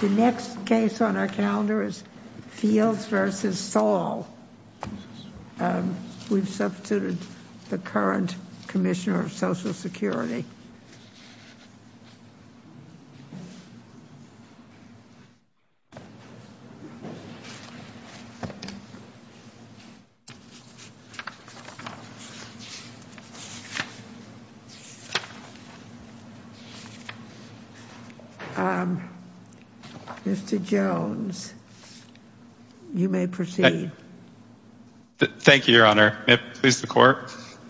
The next case on our calendar is Fields v. Saul. We've substituted the current commissioner for Social Security. Mr. Jones, you may proceed. Jones Thank you, Your Honor.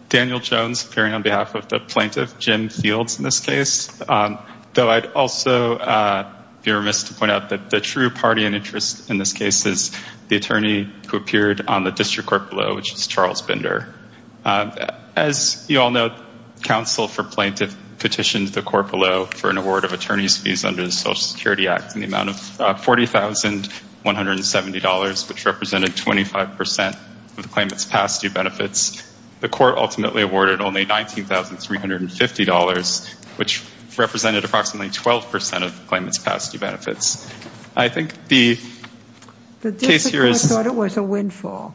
Daniel Jones appearing on behalf of the plaintiff, Jim Fields, in this case. Though I'd also be remiss to point out that the true party and interest in this case is the attorney who appeared on the District Court below, which is Charles Bender. As you all know, counsel for plaintiff petitioned the court below for an award of attorney's fees under the Social Security Act in the amount of $40,170, which represented 25% of the claimant's past year benefits. The court ultimately awarded only $19,350, which represented approximately 12% of the claimant's past year benefits. I think the case here is... Ginsburg The District Court thought it was a windfall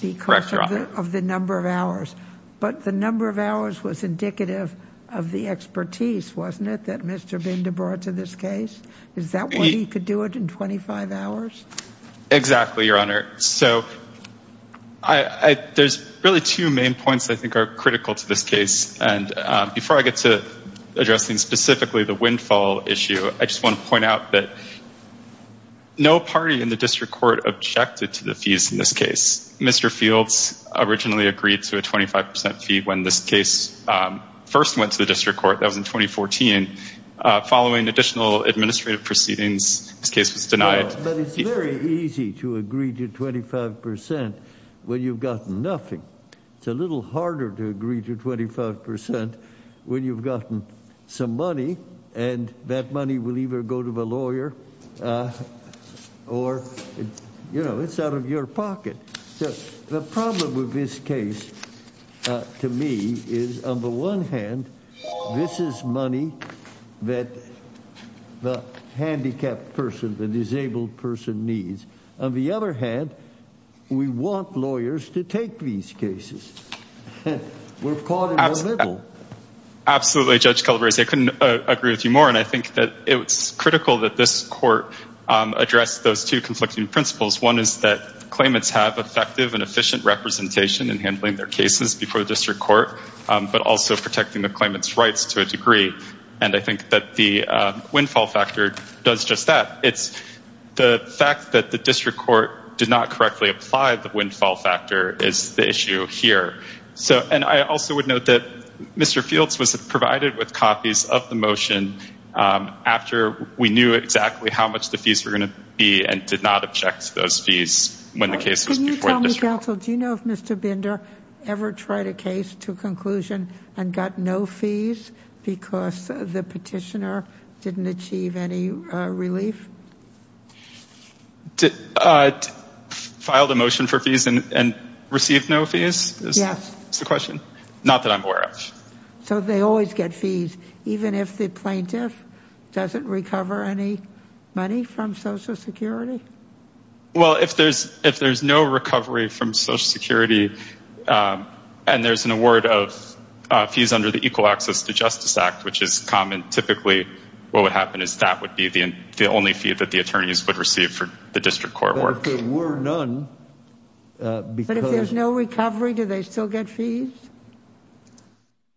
because of the number of hours, but the number of hours was indicative of the expertise, wasn't it, that Mr. Bender brought to this case? Is that why he could do it in 25 hours? Jones Exactly, Your Honor. So there's really two main points I think are critical to this case. And before I get to addressing specifically the windfall issue, I just want to point out that no party in the District Court objected to the fees in this case. Mr. Fields originally agreed to a 25% fee when this case first went to the District Court. That was in 2014. Following additional administrative proceedings, this case was denied. Ginsburg But it's very easy to agree to 25% when you've got nothing. It's a little harder to agree to 25% when you've gotten some money, and that money will either go to the lawyer or it's out of your pocket. The problem with this case to me is, on the one hand, this is money that the handicapped person, the disabled person needs. On the other hand, we want lawyers to take these cases. We're caught in the middle. Jones Absolutely, Judge Calabresi. I couldn't agree with you more. And I think that it's critical that this court address those two conflicting principles. One is that claimants have effective and efficient representation in handling their cases before the District Court, but also protecting the claimant's rights to a degree. And I think that the windfall factor does just that. It's the fact that the District Court did not correctly apply the windfall factor is the issue here. And I also would note that Mr. Fields was provided with copies of the motion after we knew exactly how much the fees were going to be and did not object to those fees when the case was before the District Court. Judge Calabresi Counsel, do you know if Mr. Binder ever tried a case to conclusion and got no fees because the petitioner didn't achieve any relief? Binder Filed a motion for fees and received no fees? Judge Calabresi Yes. Binder That's the question. Not that I'm aware of. Judge Calabresi So they always get fees, even if the plaintiff doesn't recover any money from Social Security? Binder Well, if there's no recovery from Social Security, and there's an award of fees under the Equal Access to Justice Act, which is common, typically, what would happen is that would be the only fee that the attorneys would receive for the District Court work. Judge Calabresi But if there were none... Binder But if there's no recovery, do they still get fees?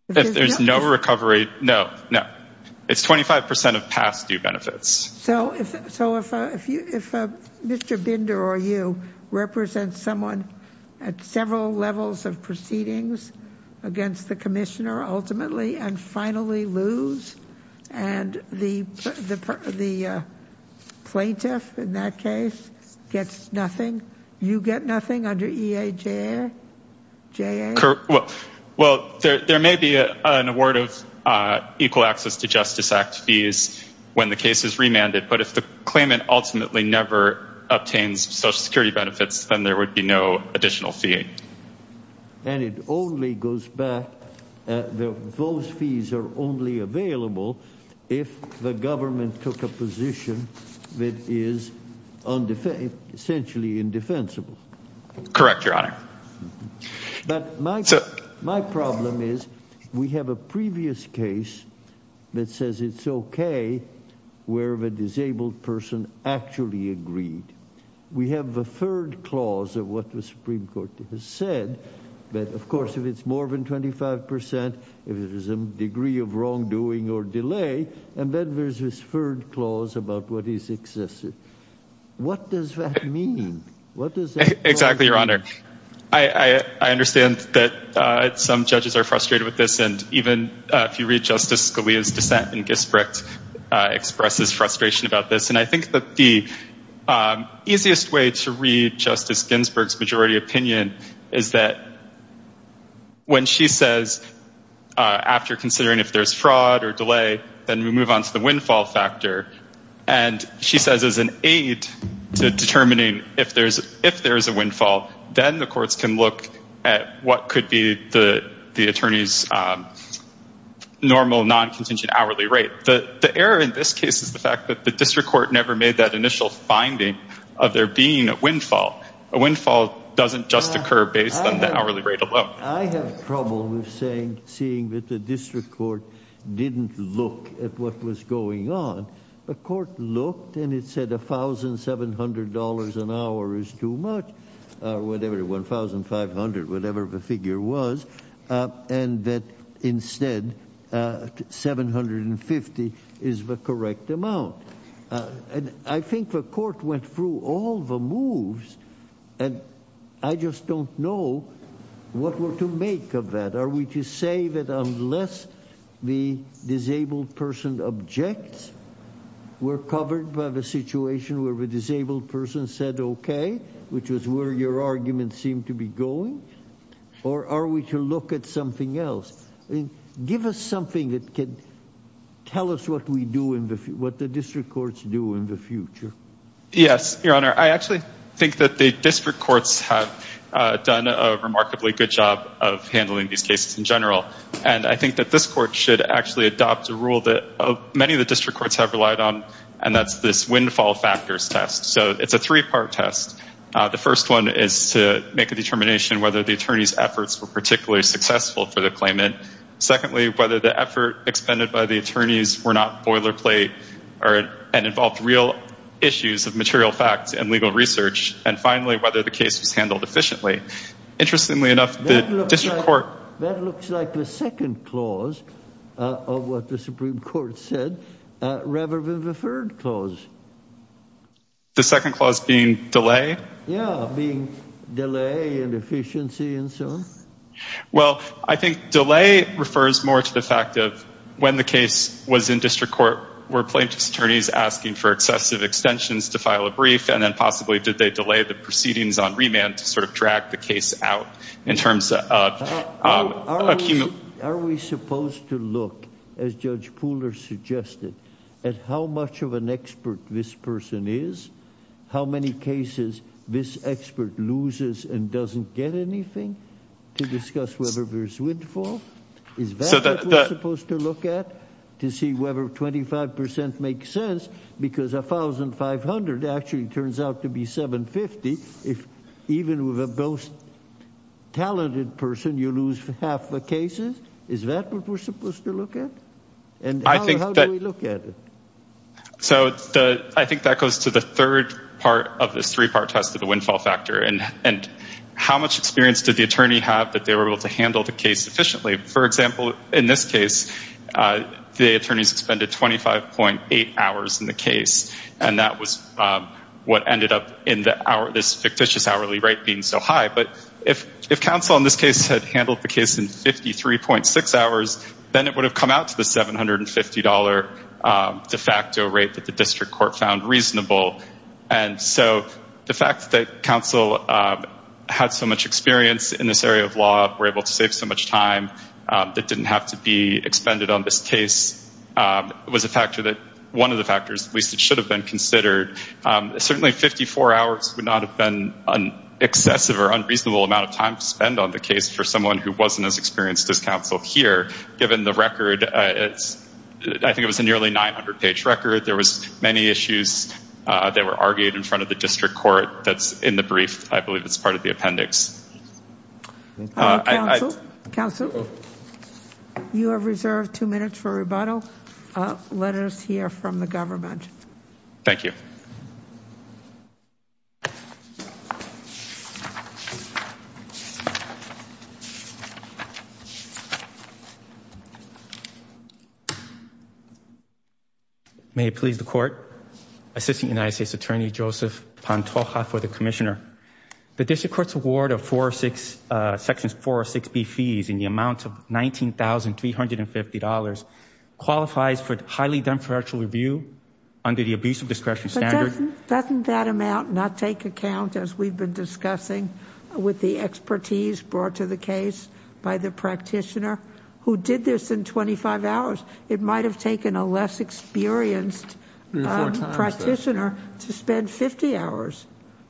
Binder If there's no recovery, no, no. It's 25% of past due benefits. Judge Calabresi So if Mr. Binder, or you, represents someone at several levels of proceedings against the commissioner, ultimately, and finally lose, and the plaintiff, in that case, gets nothing, you get nothing under EAJR? Binder Well, there may be an award of Equal Access to Justice Act fees when the case is remanded. But if the claimant ultimately never obtains Social Security benefits, then there would be no additional fee. Judge Calabresi And it only goes back, those fees are only available if the government took a position that is essentially indefensible. Binder Correct, Your Honor. Judge Calabresi But my problem is, we have a previous case that says it's okay, where the disabled person actually agreed. We have a third clause of what the Supreme Court has said that, of course, if it's more than 25%, if it is a degree of wrongdoing or delay, and then there's this third clause about what is excessive. What does that mean? Binder Exactly, Your Honor. I understand that some judges are frustrated with this. And even if you read Justice Scalia's dissent in Gisbert, expresses frustration about this. And I think that the easiest way to read Justice Ginsburg's majority opinion is that when she says, after considering if there's fraud or delay, then we move on to the windfall factor. And she says as an aid to determining if there's a windfall, then the courts can look at what could be the attorney's normal non-contingent hourly rate. The error in this case is the fact that the district court never made that initial finding of there being a windfall. A windfall doesn't just occur based on the hourly rate alone. Justice Breyer I have trouble with saying, seeing that the district court didn't look at what was going on. The court looked and it said $1,700 an hour is too much, or whatever, $1,500, whatever the figure was, and that instead $750 is the correct amount. And I think the court went through all the moves, and I just don't know what we're to make of that. Are we to say that unless the disabled person objects, we're covered by the situation where the disabled person said, okay, which is where your argument seemed to be going? Or are we to look at something else? Give us something that could tell us what we do in the, what the district courts do in the future. Justice Breyer Yes, Your Honor. I actually think that the district courts have done a remarkably good job of handling these cases in general. And I think that this court should actually adopt a rule that many of the district courts have relied on, and that's this windfall factors test. So it's a three part test. The first one is to make a determination whether the attorney's efforts were particularly successful for the claimant. Secondly, whether the effort expended by the attorneys were not boilerplate, and involved real issues of material facts and legal research. And finally, whether the case was handled efficiently. Interestingly enough, the district court... Justice Breyer That looks like the second clause of what the Supreme Court said, rather than the third clause. Justice Breyer The second clause being delay? Justice Breyer Yeah, being delay and efficiency and so on. Justice Breyer Well, I think delay refers more to the fact of when the case was in district court, were plaintiff's attorneys asking for excessive sort of drag the case out in terms of... Justice Sotomayor Are we supposed to look, as Judge Pooler suggested, at how much of an expert this person is? How many cases this expert loses and doesn't get anything to discuss whether there's windfall? Is that what we're supposed to look at, to see whether 25% makes sense? Because 1,500 actually turns out to be 750. If even with a most talented person, you lose half the cases? Is that what we're supposed to look at? And how do we look at it? Justice Breyer So I think that goes to the third part of this three-part test of the windfall factor. And how much experience did the attorney have that they were able to handle the case efficiently? For example, in this case, the attorneys expended 25.8 hours in the case. And that was what ended up in this fictitious hourly rate being so high. But if counsel in this case had handled the case in 53.6 hours, then it would have come out to the $750 de facto rate that the district court found reasonable. And so the fact that counsel had so much experience in this area of law, were able to be expended on this case, was a factor that one of the factors at least it should have been considered. Certainly, 54 hours would not have been an excessive or unreasonable amount of time to spend on the case for someone who wasn't as experienced as counsel here, given the record. I think it was a nearly 900-page record. There was many issues that were argued in front of the district court that's in the brief. I believe it's part of the appendix. Counsel, you have reserved two minutes for rebuttal. Let us hear from the government. Thank you. May it please the court. Assistant United States Attorney Joseph Pantoja for the Commissioner. The district court's award of sections 406B fees in the amount of $19,350 qualifies for highly done for actual review under the abuse of discretion standard. Doesn't that amount not take account as we've been discussing with the expertise brought to the case by the practitioner who did this in 25 hours? It might have taken a less experienced practitioner to spend 50 hours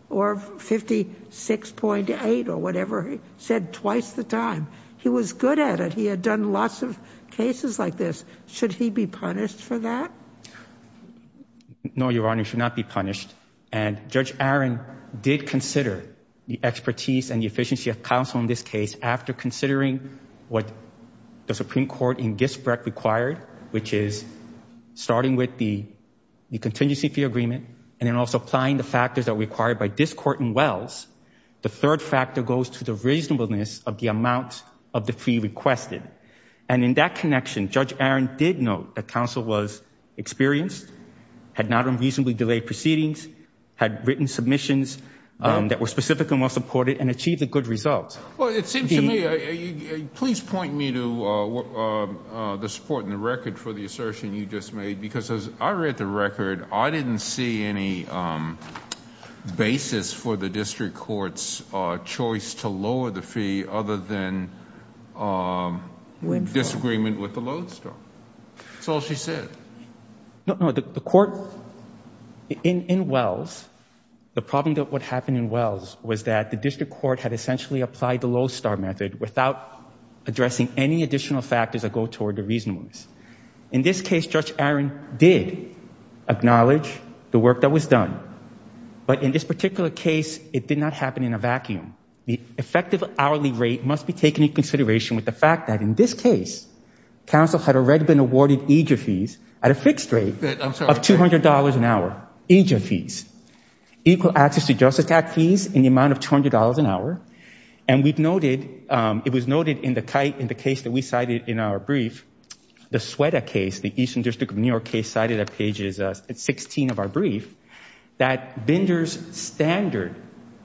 or 56.8 or whatever he said twice the time. He was good at it. He had done lots of cases like this. Should he be punished for that? No, Your Honor, he should not be punished. Judge Aaron did consider the expertise and the efficiency of counsel in this case after considering what the Supreme Court in Gisbrecht required, which is starting with the contingency fee agreement and then also applying the factors that are required by this court in Wells. The third factor goes to the reasonableness of the amount of the fee requested. And in that connection, Judge Aaron did note that counsel was experienced, had not unreasonably delayed proceedings, had written submissions that were specifically well supported and achieved a good result. Well, it seems to me, please point me to the support in the record for the assertion you just made, because as I read the record, I didn't see any basis for the district court's choice to lower the fee other than disagreement with the lodestone. That's all she said. No, no, the court in Wells, the problem that would happen in Wells was that the district court had essentially applied the lodestone method without addressing any additional factors that go toward the reasonableness. In this case, Judge Aaron did acknowledge the work that was done. But in this particular case, it did not happen in a vacuum. The effective hourly rate must be taken into consideration with the fact that in this case, counsel had already been awarded EGF fees at a fixed rate of $200 an hour, EGF fees, equal access to Justice Act fees in the amount of $200 an hour. And we've noted, it was noted in the case that we cited in our brief, the Sueda case, the Eastern District of New York case cited at pages 16 of our brief, that Bender's standard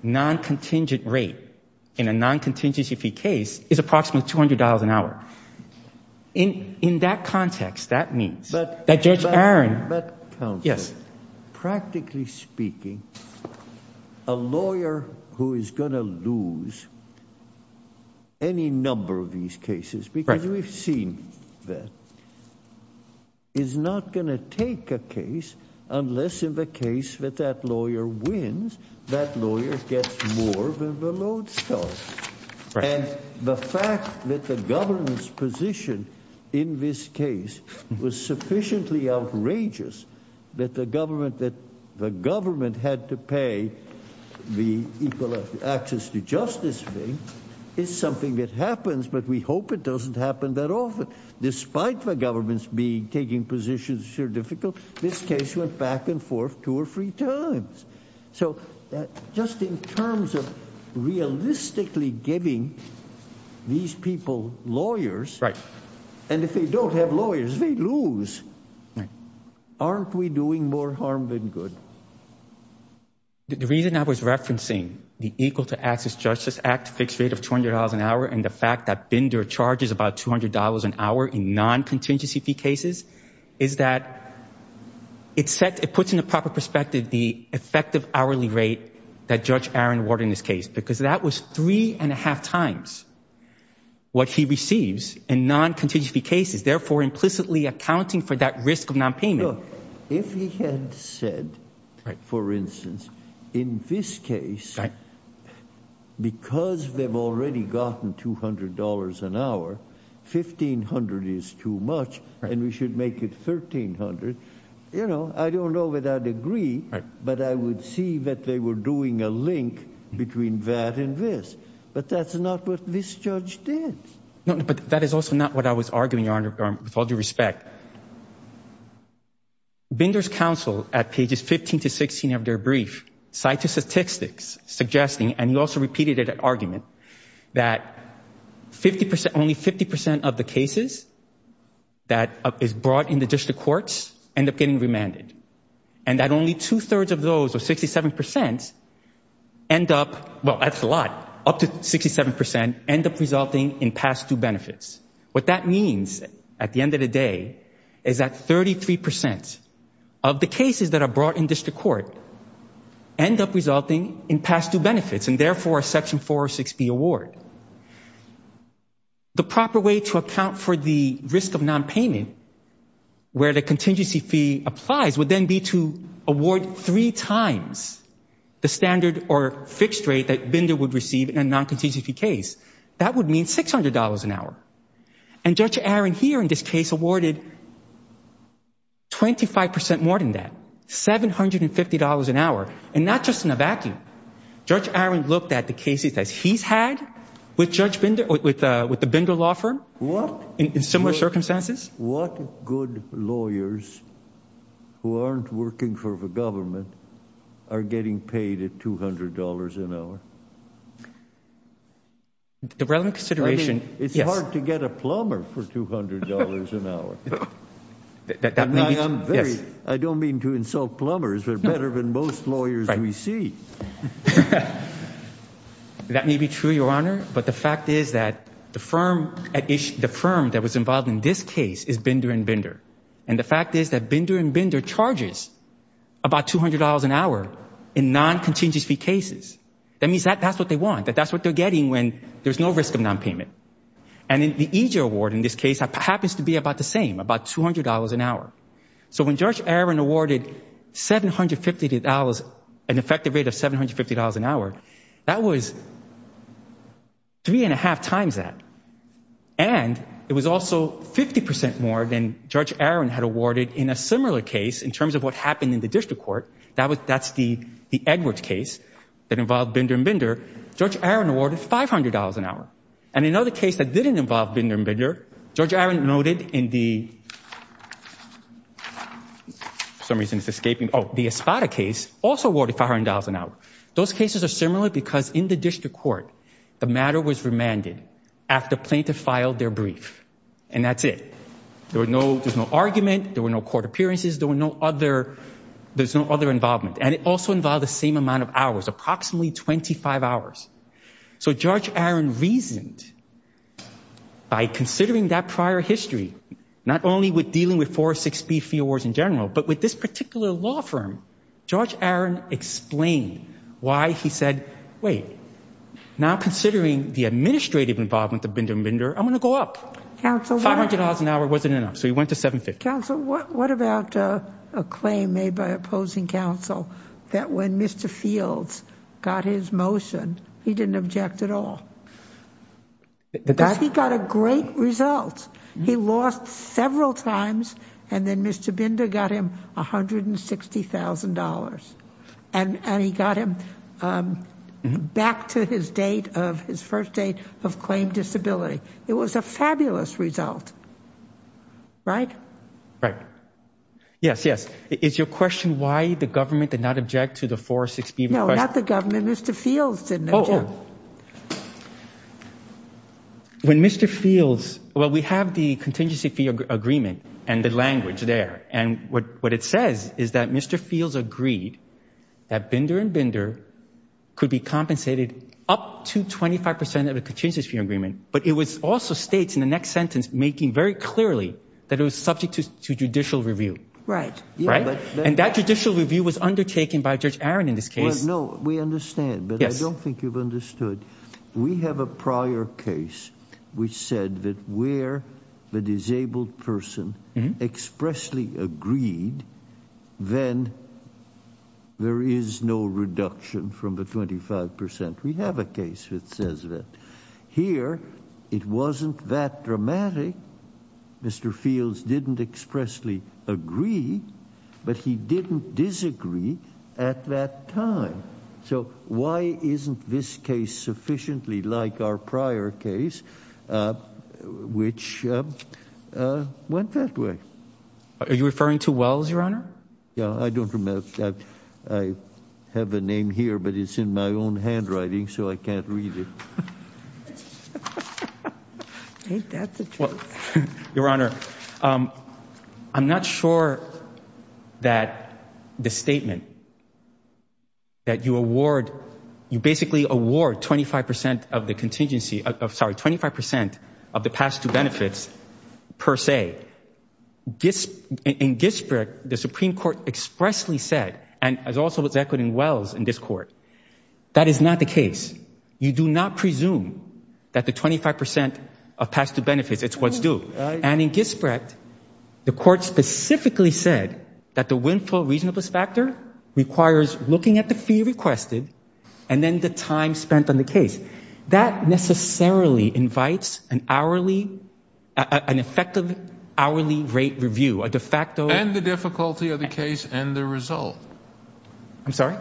non-contingent rate in a non-contingency fee case is approximately $200 an hour. In that context, that means that Judge Aaron... But counsel, practically speaking, a lawyer who is going to lose any number of these cases, because we've seen that, is not going to take a case unless in the case that that lawyer wins, that lawyer gets more than the lodestone. And the fact that the government's position in this case was sufficiently outrageous, that the government had to pay the equal access to justice fee is something that happens, but we hope it doesn't happen that often. Despite the government's taking positions that are difficult, this case went back and forth two or three times. So just in terms of realistically giving these people lawyers, and if they don't have lawyers, they lose. Aren't we doing more harm than good? The reason I was referencing the Equal to Access Justice Act fixed rate of $200 an hour, and the fact that Bender charges about $200 an hour in non-contingency fee cases, is that it puts into proper perspective the effective hourly rate that Judge Aaron awarded in this case, because that was three and a half times what he receives in non-contingency fee cases, therefore implicitly accounting for that risk of non-payment. If he had said, for instance, in this case, because they've already gotten $200 an hour, $1,500 is too much, and we should make it $1,300. I don't know whether I'd agree, but I would see that they were doing a link between that and this, but that's not what this judge did. No, but that is also not what I was arguing, Your Honor, with all due respect. Bender's counsel, at pages 15 to 16 of their brief, cited statistics suggesting, and he also repeated it at argument, that only 50% of the cases that is brought in the district courts end up getting remanded, and that only two-thirds of those, or 67%, end up, well, that's a lot, up to 67%, end up resulting in past due benefits. What that means, at the end of the day, is that 33% of the cases that are brought in district court end up resulting in past due benefits, and therefore a Section 406B award. The proper way to account for the risk of non-payment, where the contingency fee applies, would then be to award three times the standard or fixed rate that Bender would receive in a non-contingency fee case. That would mean $600 an hour, and Judge Aaron here, in this case, awarded $25% more than that, $750 an hour, and not just in a vacuum. Judge Aaron looked at the cases that he's had with Judge Bender, with the Bender Law Firm, in similar circumstances. What good lawyers who aren't working for the government are getting paid at $200 an hour? The relevant consideration, yes. It's hard to get a plumber for $200 an hour. I don't mean to insult plumbers, but better than most lawyers we see. That may be true, Your Honor, but the fact is that the firm that was involved in this case is Bender and Bender, and the fact is that Bender and Bender charges about $200 an hour in non-contingency fee cases. That means that that's what they want, that that's what they're And the EJ award in this case happens to be about the same, about $200 an hour. When Judge Aaron awarded an effective rate of $750 an hour, that was three and a half times that, and it was also 50% more than Judge Aaron had awarded in a similar case in terms of what happened in the district court. That's the Edwards case that involved Bender and Bender. Judge Aaron awarded $500 an hour, and another case that didn't involve Bender and Bender, Judge Aaron noted in the, for some reason it's escaping, oh, the Espada case also awarded $500 an hour. Those cases are similar because in the district court the matter was remanded after plaintiff filed their brief, and that's it. There was no, there's no argument, there were no court appearances, there were no other, there's no other involvement, and it also involved the So Judge Aaron reasoned by considering that prior history, not only with dealing with four or six fee awards in general, but with this particular law firm, Judge Aaron explained why he said, wait, now considering the administrative involvement of Bender and Bender, I'm going to go up. $500 an hour wasn't enough, so he went to $750. Counsel, what about a claim made by opposing counsel that when Mr. Fields got his motion, he didn't object at all? That he got a great result. He lost several times, and then Mr. Bender got him $160,000, and he got him back to his date of, his first date of claim disability. It was a fabulous result, right? Right. Yes, yes. Is your question why the government did not object to the four or six fee request? No, not the government, Mr. Fields didn't object. When Mr. Fields, well, we have the contingency fee agreement and the language there, and what it says is that Mr. Fields agreed that Bender and Bender could be compensated up to 25% of the contingency fee agreement, but it was also states in the next sentence making very clearly that it was subject to judicial review. Right. Right. And that judicial review was undertaken by Judge Aaron in this case. No, we understand, but I don't think you've understood. We have a prior case which said that where the disabled person expressly agreed, then there is no reduction from the 25%. We have a case that says that. Here, it wasn't that dramatic. Mr. Fields didn't expressly agree, but he didn't disagree at that time. So why isn't this case sufficiently like our prior case, which went that way? Are you referring to Wells, Your Honor? Yeah, I don't remember that. I have a name here, but it's in my own handwriting, so I can't read it. Your Honor, I'm not sure that the statement that you award, you basically award 25% of the pass-through benefits per se. In Gisbrecht, the Supreme Court expressly said, and also was echoed in Wells in this court, that is not the case. You do not presume that the 25% of pass-through benefits, it's what's due. And in Gisbrecht, the court specifically said that the windfall reasonableness factor requires looking at the fee requested and then the time spent on the case. That necessarily invites an effective hourly rate review, a de facto- And the difficulty of the case and the result. I'm sorry?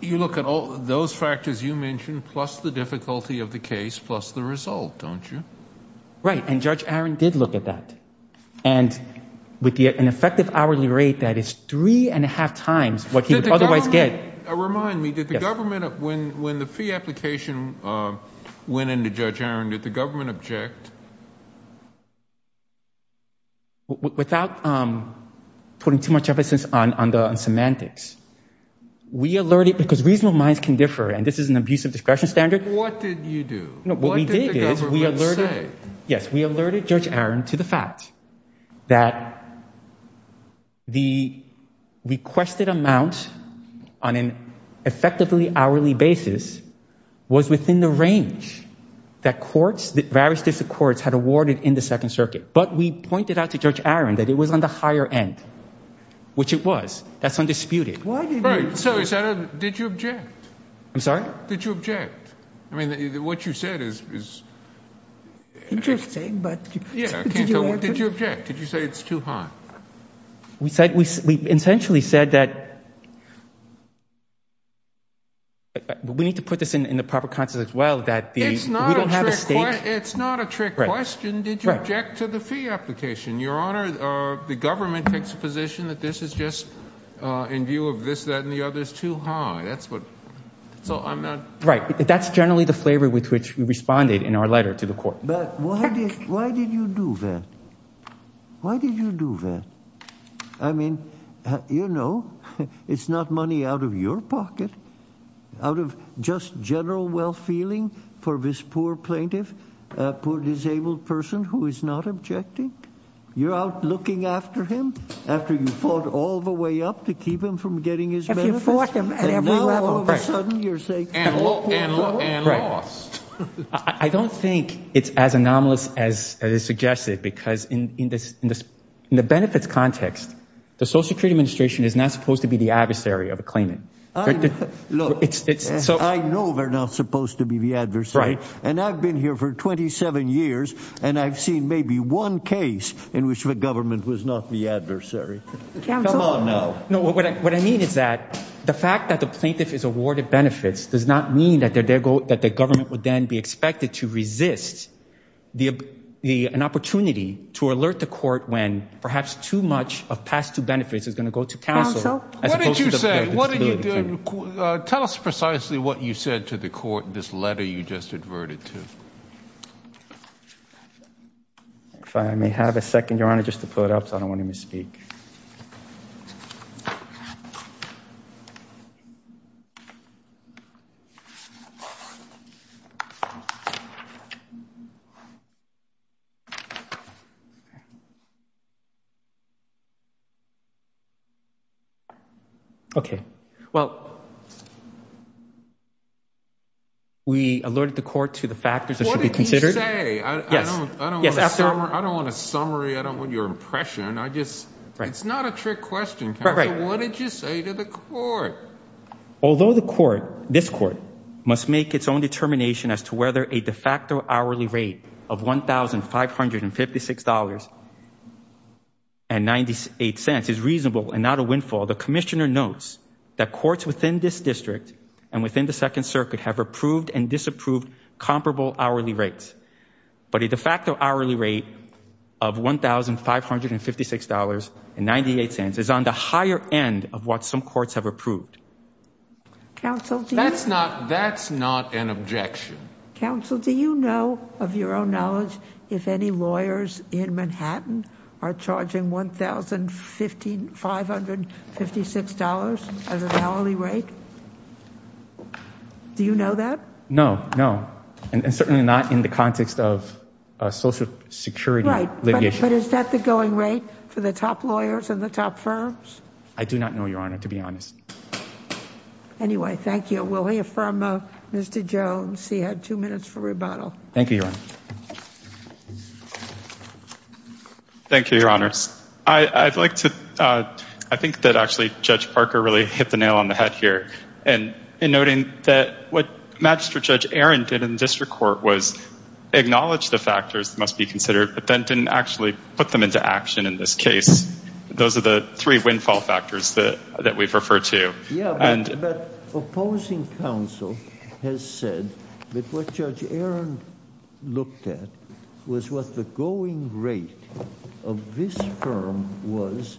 You look at all those factors you mentioned, plus the difficulty of the case, plus the result, don't you? Right. And Judge Aaron did look at that. And with an effective hourly rate that is three and a half times what he would otherwise get- When did Judge Aaron, did the government object? Without putting too much emphasis on the semantics, we alerted, because reasonable minds can differ, and this is an abusive discretion standard- What did you do? What did the government say? Yes, we alerted Judge Aaron to the fact that the requested amount on an effectively hourly basis was within the range that courts, that various district courts had awarded in the Second Circuit. But we pointed out to Judge Aaron that it was on the higher end, which it was. That's undisputed. Did you object? I'm sorry? Did you object? I mean, what you said is- Interesting, but did you object? Did you say it's too high? We said, we essentially said that- We need to put this in the proper context as well, that the- It's not a trick question. It's not a trick question. Did you object to the fee application? Your Honor, the government takes a position that this is just in view of this, that, and the other is too high. That's what- So I'm not- Right. That's generally the flavor with which we responded in our letter to the court. Why did you do that? Why did you do that? I mean, you know, it's not money out of your pocket, out of just general well-feeling for this poor plaintiff, a poor disabled person who is not objecting. You're out looking after him after you fought all the way up to keep him from getting his benefits, and now all of a sudden you're saying- And lost. I don't think it's as anomalous as is suggested because in the benefits context, the Social Security Administration is not supposed to be the adversary of a claimant. I know they're not supposed to be the adversary, and I've been here for 27 years, and I've seen maybe one case in which the government was not the adversary. Counsel- Come on now. No, what I mean is that the fact that the plaintiff is awarded benefits does not mean that the government would then be expected to resist an opportunity to alert the court when perhaps too much of past due benefits is going to go to counsel- Counsel- What did you say? Tell us precisely what you said to the court in this letter you just adverted to. If I may have a second, Your Honor, just to pull it up because I don't want to misspeak. Okay, well, we alerted the court to the factors that should be considered. Counsel- What did you say? I don't want a summary. I don't want your impression. It's not a trick question, counsel. What did you say to the court? Although the court, this court, must make its own determination as to whether a de facto hourly rate of $1,556.98 is reasonable and not a windfall, the commissioner notes that courts within this district and within the Second Circuit have approved and disapproved comparable hourly rates. But a de facto hourly rate of $1,556.98 is on the higher end of what some courts have approved. That's not an objection. Counsel, do you know of your own knowledge if any lawyers in Manhattan are charging $1,556 as an hourly rate? Do you know that? No, no, and certainly not in the context of social security litigation. But is that the going rate for the top lawyers and the top firms? I do not know, Your Honor, to be honest. Anyway, thank you. We'll hear from Mr. Jones. He had two minutes for rebuttal. Thank you, Your Honor. Thank you, Your Honors. I'd like to- I think that actually Judge Parker really hit the nail on the head here in noting that what Magistrate Judge Aaron did in the district court was acknowledge the factors that must be considered, but then didn't actually put them into action in this case. Those are the three windfall factors that we've referred to. Yeah, but opposing counsel has said that what Judge Aaron looked at was what the going rate of this firm was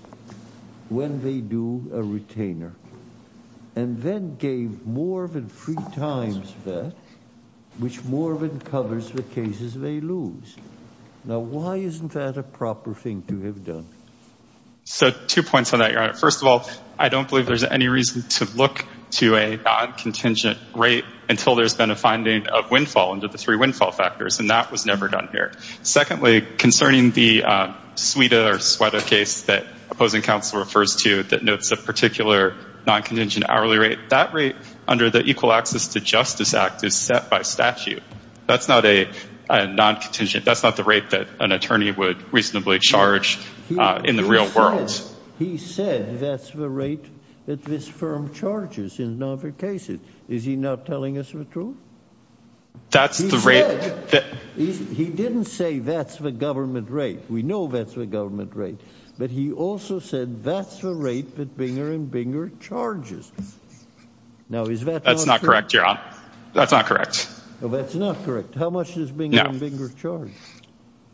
when they do a retainer, and then gave Morvin three times that, which Morvin covers the cases they lose. Now, why isn't that a proper thing to have done? So, two points on that, Your Honor. First of all, I don't believe there's any reason to look to a non-contingent rate until there's been a finding of windfall under the three windfall factors, and that was never done here. Secondly, concerning the Suida or Suedo case that opposing counsel refers to that notes a particular non-contingent hourly rate, that rate under the Equal Access to Justice Act is set by statute. That's not a non-contingent, that's not the rate that an attorney would reasonably charge in the real world. He said that's the rate that this firm charges in non-fair cases. Is he not telling us the truth? He said, he didn't say that's the government rate. We know that's the government rate, but he also said that's the rate that Binger and Binger charges. That's not correct, Your Honor. That's not correct. No, that's not correct. How much does Binger and Binger charge?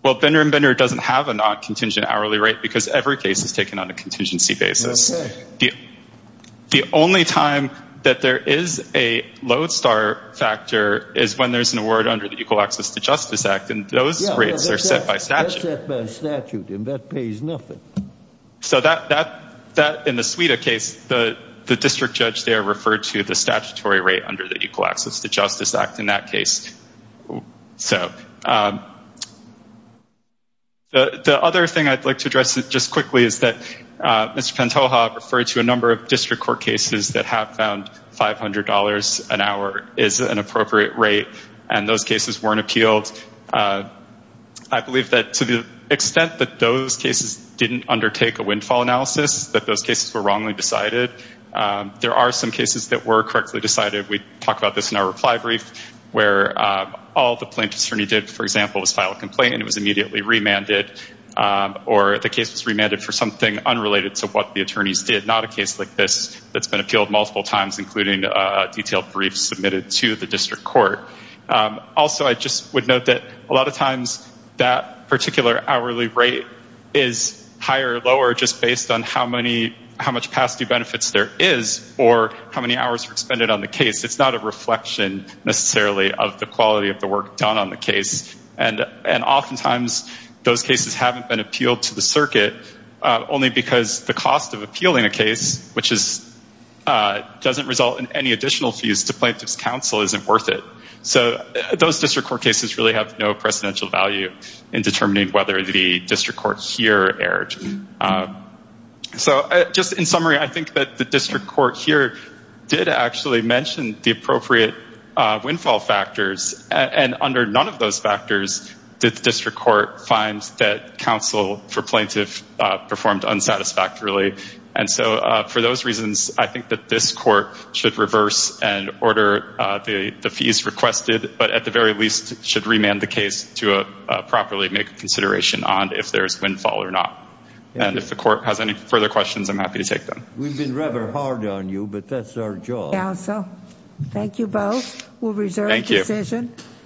Well, Binger and Binger doesn't have a non-contingent hourly rate because every case is taken on a contingency basis. The only time that there is a lodestar factor is when there's an award under the Equal Access to Justice Act, and those rates are set by statute. And that pays nothing. So that, in the Suida case, the district judge there referred to the statutory rate under the Equal Access to Justice Act in that case. So the other thing I'd like to address just quickly is that Mr. Pantoja referred to a number of district court cases that have found $500 an hour is an extent that those cases didn't undertake a windfall analysis, that those cases were wrongly decided. There are some cases that were correctly decided. We talk about this in our reply brief where all the plaintiff's attorney did, for example, was file a complaint and it was immediately remanded, or the case was remanded for something unrelated to what the attorneys did. Not a case like this that's been appealed multiple times, including a detailed brief submitted to the district court. Also, I just would note that a lot of times that particular hourly rate is higher or lower just based on how much past due benefits there is or how many hours were expended on the case. It's not a reflection necessarily of the quality of the work done on the case. And oftentimes those cases haven't been appealed to the circuit only because the cost of appealing a case, which doesn't result in any additional fees to plaintiff's counsel, isn't worth it. So those district court cases really have no precedential value in determining whether the district court here erred. So just in summary, I think that the district court here did actually mention the appropriate windfall factors, and under none of those factors did the district court find that counsel for plaintiff performed unsatisfactorily. And so for those reasons, I think that this court should reverse and order the fees requested, but at the very least should remand the case to properly make consideration on if there's windfall or not. And if the court has any further questions, I'm happy to take them. We've been rather hard on you, but that's our job. Counsel, thank you both. We'll reserve decision.